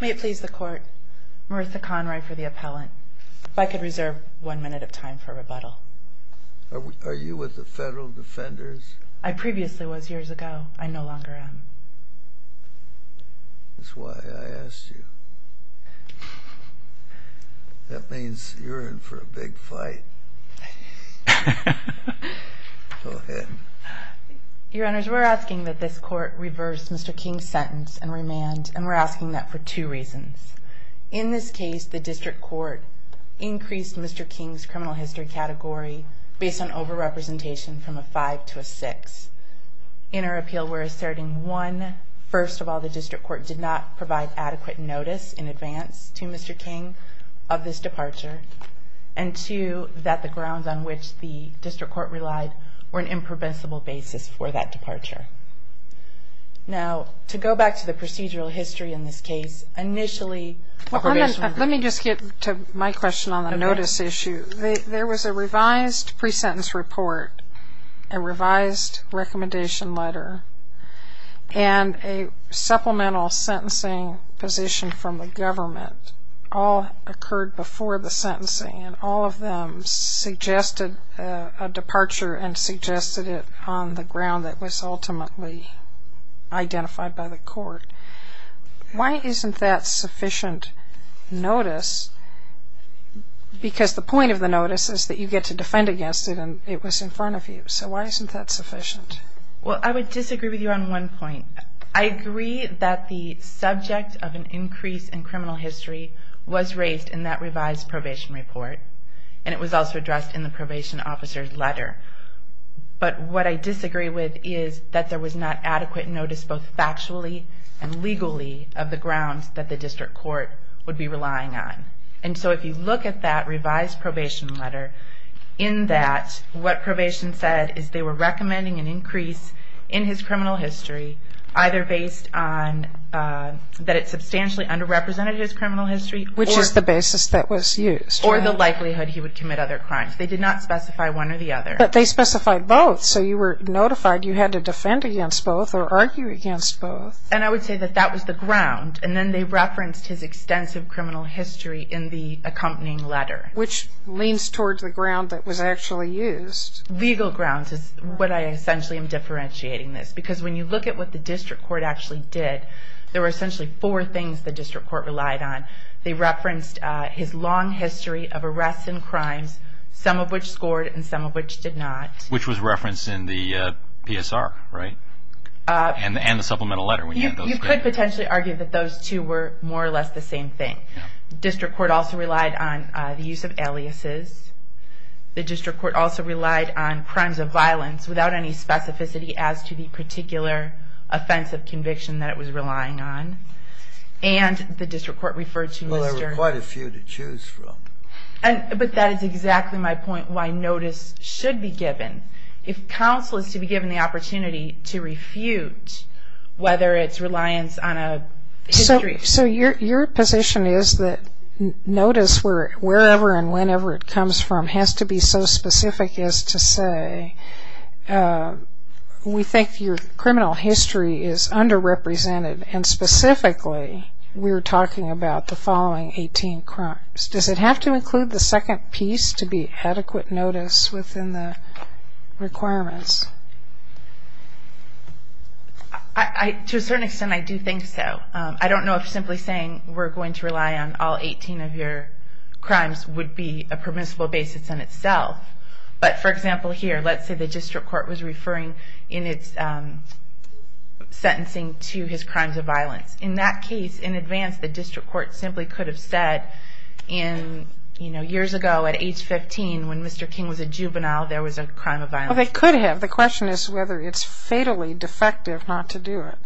May it please the court, Maritha Conroy for the appellant. If I could reserve one minute of time for rebuttal. Are you with the Federal Defenders? I previously was years ago. I no longer am. That's why I asked you. That means you're in for a big fight. Go ahead. Your Honors, we're asking that this court reverse Mr. King's sentence and remand, and we're asking that for two reasons. In this case, the district court increased Mr. King's criminal history category based on over-representation from a 5 to a 6. In our appeal, we're asserting 1. First of all, the district court did not provide adequate notice in advance to Mr. King of this departure. And 2. That the grounds on which the district court relied were an impreventable basis for that departure. Now, to go back to the procedural history in this case, initially... Let me just get to my question on the notice issue. There was a revised pre-sentence report, a revised recommendation letter, and a supplemental sentencing position from the government. All occurred before the sentencing, and all of them suggested a departure and suggested it on the ground that was ultimately identified by the court. Why isn't that sufficient notice? Because the point of the notice is that you get to defend against it, and it was in front of you. So why isn't that sufficient? Well, I would disagree with you on one point. I agree that the subject of an increase in criminal history was raised in that revised probation report. And it was also addressed in the probation officer's letter. But what I disagree with is that there was not adequate notice, both factually and legally, of the grounds that the district court would be relying on. And so if you look at that revised probation letter, in that what probation said is they were recommending an increase in his criminal history, either based on that it substantially underrepresented his criminal history... Which is the basis that was used. Or the likelihood he would commit other crimes. They did not specify one or the other. But they specified both, so you were notified you had to defend against both or argue against both. And I would say that that was the ground. And then they referenced his extensive criminal history in the accompanying letter. Which leans towards the ground that was actually used. Legal grounds is what I essentially am differentiating this. Because when you look at what the district court actually did, there were essentially four things the district court relied on. They referenced his long history of arrests and crimes, some of which scored and some of which did not. Which was referenced in the PSR, right? And the supplemental letter. You could potentially argue that those two were more or less the same thing. District court also relied on the use of aliases. The district court also relied on crimes of violence without any specificity as to the particular offense of conviction that it was relying on. And the district court referred to... Well, there were quite a few to choose from. But that is exactly my point, why notice should be given. If counsel is to be given the opportunity to refute whether it's reliance on a history... So your position is that notice, wherever and whenever it comes from, has to be so specific as to say, we think your criminal history is underrepresented. And specifically, we're talking about the following 18 crimes. Does it have to include the second piece to be adequate notice within the requirements? To a certain extent, I do think so. I don't know if simply saying we're going to rely on all 18 of your crimes would be a permissible basis in itself. But for example here, let's say the district court was referring in its sentencing to his crimes of violence. In that case, in advance, the district court simply could have said years ago at age 15, when Mr. King was a juvenile, there was a crime of violence. Well, they could have. The question is whether it's fatally defective not to do it.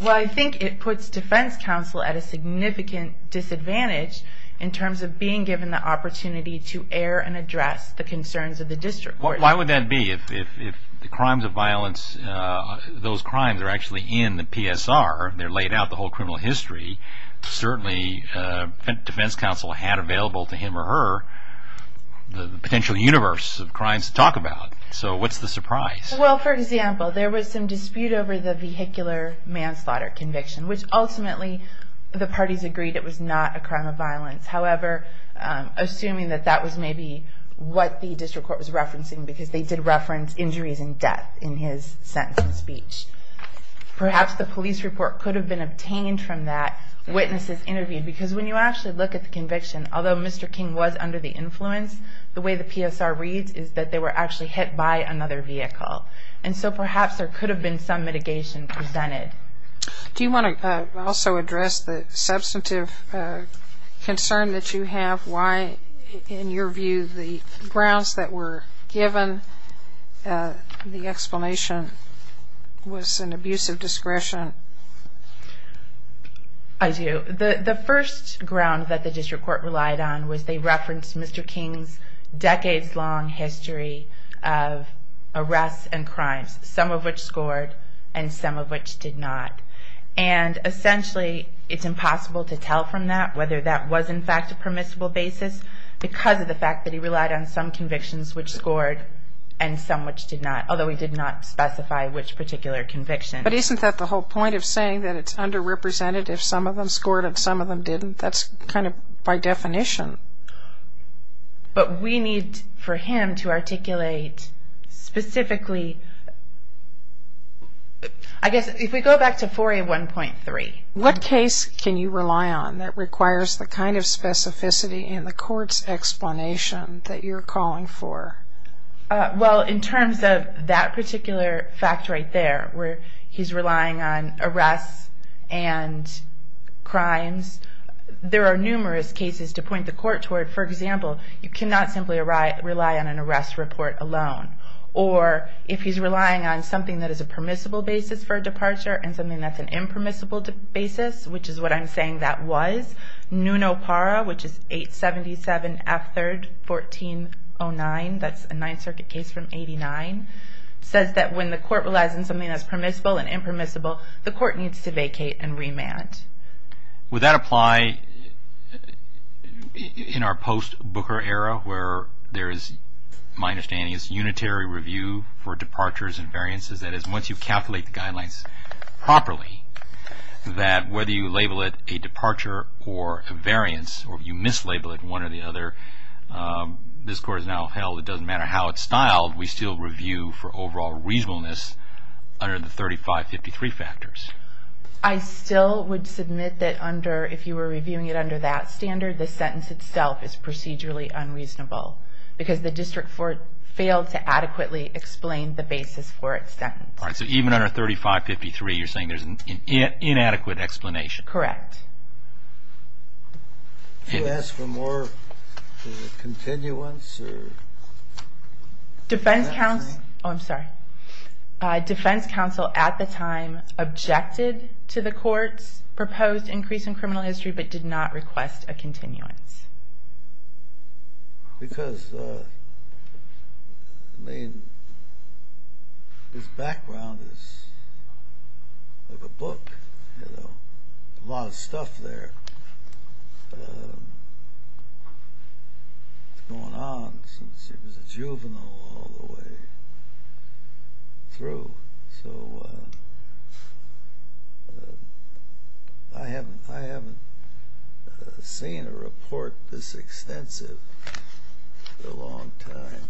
Well, I think it puts defense counsel at a significant disadvantage in terms of being given the opportunity to air and address the concerns of the district court. Why would that be? If the crimes of violence, those crimes are actually in the PSR, they're laid out, the whole criminal history, certainly defense counsel had available to him or her the potential universe of crimes to talk about. So what's the surprise? Well, for example, there was some dispute over the vehicular manslaughter conviction, which ultimately the parties agreed it was not a crime of violence. However, assuming that that was maybe what the district court was referencing, because they did reference injuries and death in his sentencing speech. Perhaps the police report could have been obtained from that, witnesses interviewed. Because when you actually look at the conviction, although Mr. King was under the influence, the way the PSR reads is that they were actually hit by another vehicle. And so perhaps there could have been some mitigation presented. Do you want to also address the substantive concern that you have? Why, in your view, the grounds that were given, the explanation was an abuse of discretion? I do. The first ground that the district court relied on was they referenced Mr. King's decades-long history of arrests and crimes, some of which scored and some of which did not. And essentially it's impossible to tell from that whether that was in fact a permissible basis, because of the fact that he relied on some convictions which scored and some which did not, although he did not specify which particular conviction. But isn't that the whole point of saying that it's underrepresented if some of them scored and some of them didn't? That's kind of by definition. But we need for him to articulate specifically, I guess if we go back to 4A1.3. What case can you rely on that requires the kind of specificity in the court's explanation that you're calling for? Well, in terms of that particular fact right there, where he's relying on arrests and crimes, there are numerous cases to point the court toward. For example, you cannot simply rely on an arrest report alone. Or if he's relying on something that is a permissible basis for a departure and something that's an impermissible basis, which is what I'm saying that was, Nuno Parra, which is 877 F3rd 1409, that's a Ninth Circuit case from 89, says that when the court relies on something that's permissible and impermissible, the court needs to vacate and remand. Would that apply in our post-Booker era where there is, my understanding, is unitary review for departures and variances? That is, once you calculate the guidelines properly, that whether you label it a departure or a variance, or you mislabel it one or the other, this court is now held, it doesn't matter how it's styled, we still review for overall reasonableness under the 3553 factors. I still would submit that under, if you were reviewing it under that standard, the sentence itself is procedurally unreasonable because the district court failed to adequately explain the basis for its sentence. All right, so even under 3553, you're saying there's inadequate explanation. Correct. Should we ask for more continuance? Defense counsel at the time objected to the court's proposed increase in criminal history but did not request a continuance. Because, I mean, his background is like a book, you know, a lot of stuff there. It's going on since he was a juvenile all the way through. So I haven't seen a report this extensive in a long time.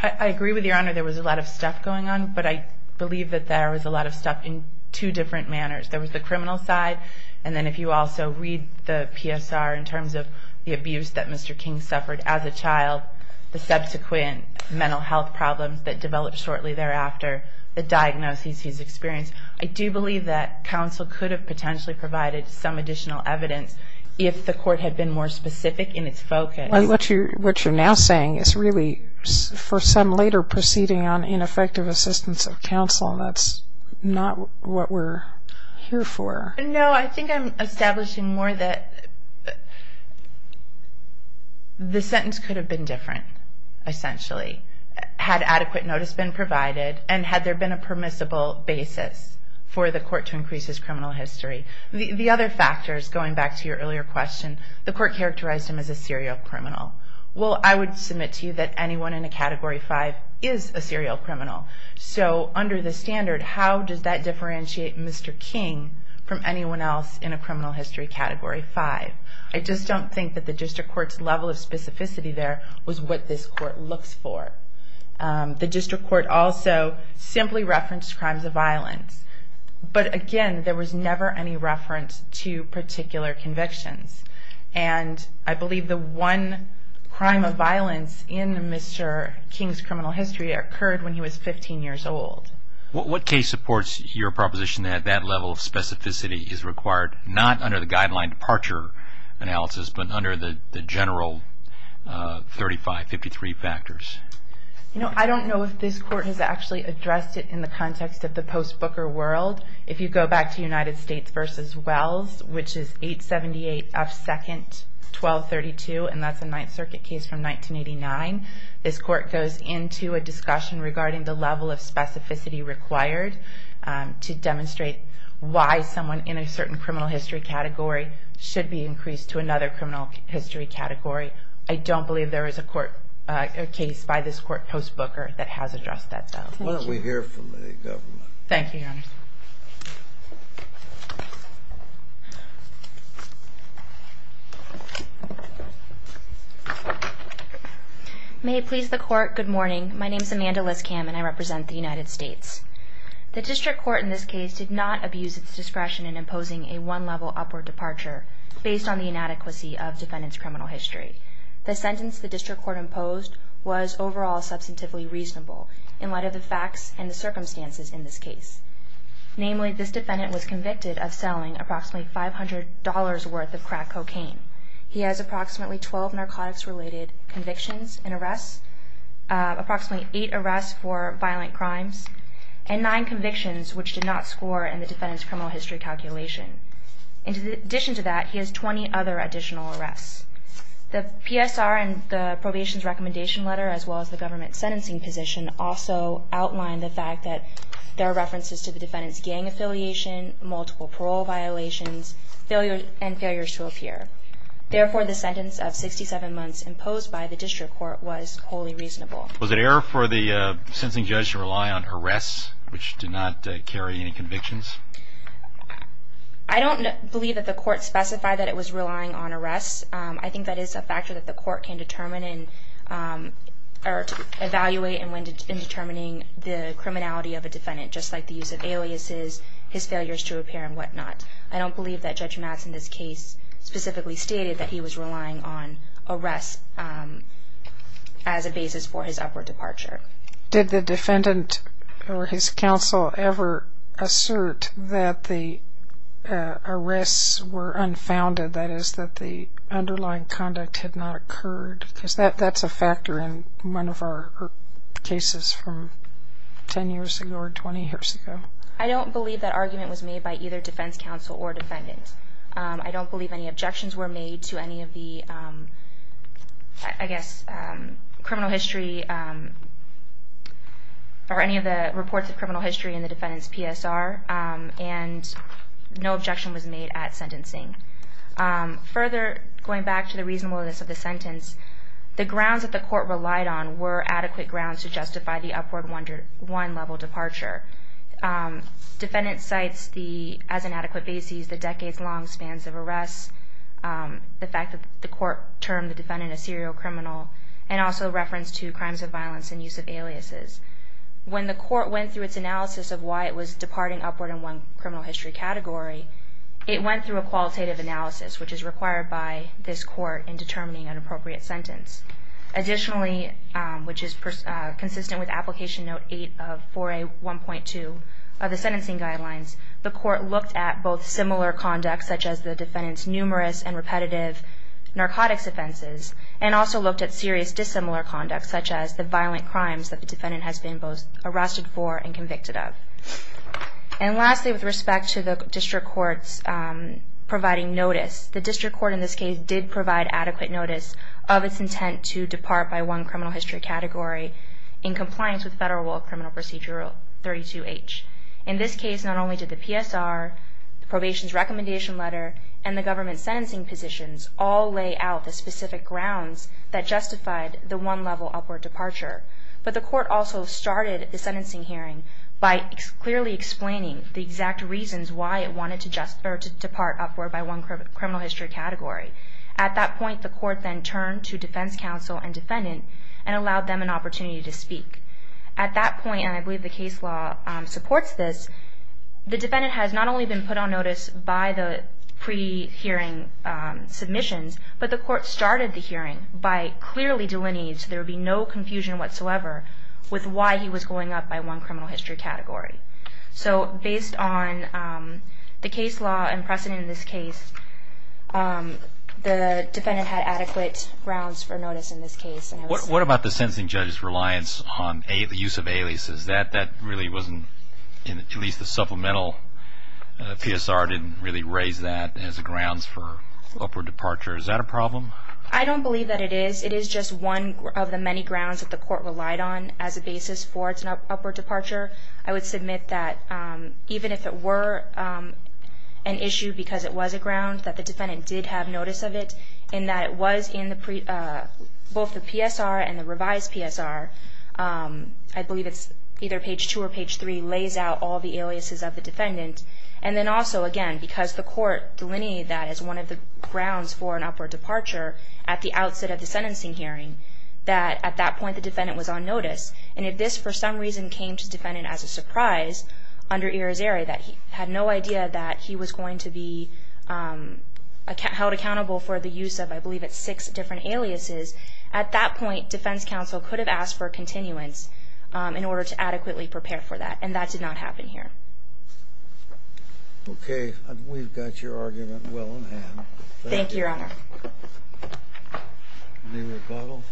I agree with Your Honor, there was a lot of stuff going on, but I believe that there was a lot of stuff in two different manners. There was the criminal side, and then if you also read the PSR in terms of the abuse that Mr. King suffered as a child, the subsequent mental health problems that developed shortly thereafter, the diagnosis he's experienced, I do believe that counsel could have potentially provided some additional evidence if the court had been more specific in its focus. What you're now saying is really for some later proceeding on ineffective assistance of counsel. That's not what we're here for. No, I think I'm establishing more that the sentence could have been different, essentially. Had adequate notice been provided, and had there been a permissible basis for the court to increase his criminal history. The other factors, going back to your earlier question, the court characterized him as a serial criminal. Well, I would submit to you that anyone in a Category 5 is a serial criminal. So, under the standard, how does that differentiate Mr. King from anyone else in a criminal history Category 5? I just don't think that the district court's level of specificity there was what this court looks for. The district court also simply referenced crimes of violence. But again, there was never any reference to particular convictions. And I believe the one crime of violence in Mr. King's criminal history occurred when he was 15 years old. What case supports your proposition that that level of specificity is required, not under the guideline departure analysis, but under the general 35-53 factors? I don't know if this court has actually addressed it in the context of the post-Booker world. If you go back to United States v. Wells, which is 878 F. 2nd, 1232, and that's a Ninth Circuit case from 1989, this court goes into a discussion regarding the level of specificity required to demonstrate why someone in a certain criminal history category should be increased to another criminal history category. I don't believe there is a case by this court post-Booker that has addressed that though. Why don't we hear from the government? Thank you, Your Honor. May it please the Court, good morning. My name is Amanda Liskam, and I represent the United States. The district court in this case did not abuse its discretion in imposing a one-level upward departure based on the inadequacy of defendant's criminal history. The sentence the district court imposed was overall substantively reasonable in light of the facts and the circumstances in this case. Namely, this defendant was convicted of selling approximately $500 worth of crack cocaine. He has approximately 12 narcotics-related convictions and arrests, approximately 8 arrests for violent crimes, and 9 convictions which did not score in the defendant's criminal history calculation. In addition to that, he has 20 other additional arrests. The PSR and the probation's recommendation letter, as well as the government's sentencing position, also outline the fact that there are references to the defendant's gang affiliation, multiple parole violations, and failures to appear. Therefore, the sentence of 67 months imposed by the district court was wholly reasonable. Was it error for the sentencing judge to rely on arrests which did not carry any convictions? I don't believe that the court specified that it was relying on arrests. I think that is a factor that the court can determine or evaluate in determining the criminality of a defendant, just like the use of aliases, his failures to appear, and whatnot. I don't believe that Judge Matz in this case specifically stated that he was relying on arrests as a basis for his upward departure. Did the defendant or his counsel ever assert that the arrests were unfounded, that is that the underlying conduct had not occurred? Because that's a factor in one of our cases from 10 years ago or 20 years ago. I don't believe that argument was made by either defense counsel or defendant. I don't believe any objections were made to any of the, I guess, criminal history or any of the reports of criminal history in the defendant's PSR, and no objection was made at sentencing. Further, going back to the reasonableness of the sentence, the grounds that the court relied on were adequate grounds to justify the upward one-level departure. Defendant cites the, as an adequate basis, the decades-long spans of arrests, the fact that the court termed the defendant a serial criminal, and also reference to crimes of violence and use of aliases. When the court went through its analysis of why it was departing upward in one criminal history category, it went through a qualitative analysis, which is required by this court in determining an appropriate sentence. Additionally, which is consistent with Application Note 8 of 4A1.2 of the sentencing guidelines, the court looked at both similar conduct, such as the defendant's numerous and repetitive narcotics offenses, and also looked at serious dissimilar conduct, such as the violent crimes that the defendant has been both arrested for and convicted of. And lastly, with respect to the district court's providing notice, the district court, in this case, did provide adequate notice of its intent to depart by one criminal history category in compliance with Federal Rule of Criminal Procedure 32H. In this case, not only did the PSR, the probation's recommendation letter, and the government's sentencing positions all lay out the specific grounds that justified the one-level upward departure, but the court also started the sentencing hearing by clearly explaining the exact reasons why it wanted to depart upward by one criminal history category. At that point, the court then turned to defense counsel and defendant and allowed them an opportunity to speak. At that point, and I believe the case law supports this, the defendant has not only been put on notice by the pre-hearing submissions, but the court started the hearing by clearly delineating so there would be no confusion whatsoever with why he was going up by one criminal history category. So based on the case law and precedent in this case, the defendant had adequate grounds for notice in this case. What about the sentencing judge's reliance on the use of aliases? That really wasn't, at least the supplemental PSR didn't really raise that as grounds for upward departure. Is that a problem? I don't believe that it is. It is just one of the many grounds that the court relied on as a basis for its upward departure. I would submit that even if it were an issue because it was a ground, that the defendant did have notice of it and that it was in both the PSR and the revised PSR. I believe it's either page two or page three lays out all the aliases of the defendant. And then also, again, because the court delineated that as one of the grounds for an upward departure at the outset of the sentencing hearing, that at that point the defendant was on notice. And if this for some reason came to the defendant as a surprise under iris area, that he had no idea that he was going to be held accountable for the use of, I believe it's six different aliases, at that point defense counsel could have asked for continuance in order to adequately prepare for that. And that did not happen here. Okay. We've got your argument well in hand. Thank you, Your Honor. Any rebuttal?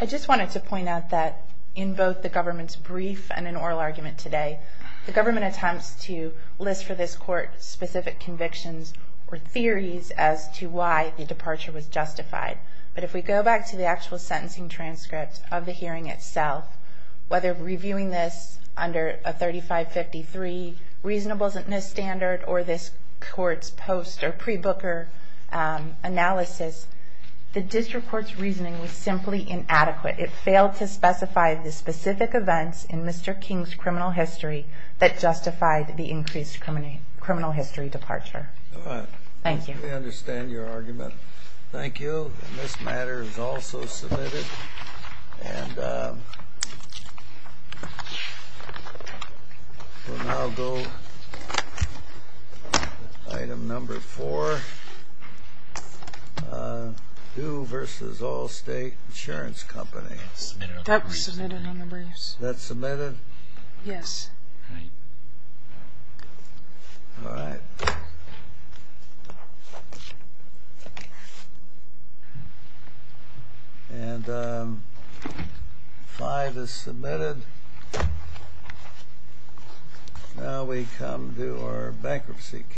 I just wanted to point out that in both the government's brief and an oral argument today, the government attempts to list for this court specific convictions or theories as to why the departure was justified. But if we go back to the actual sentencing transcript of the hearing itself, whether reviewing this under a 3553 reasonableness standard or this court's post or pre-booker analysis, the district court's reasoning was simply inadequate. It failed to specify the specific events in Mr. King's criminal history that justified the increased criminal history departure. All right. Thank you. We understand your argument. Thank you. And this matter is also submitted. And we'll now go to item number four, due versus all state insurance companies. That was submitted on the briefs. That's submitted? Yes. All right. And five is submitted. Now we come to our bankruptcy case.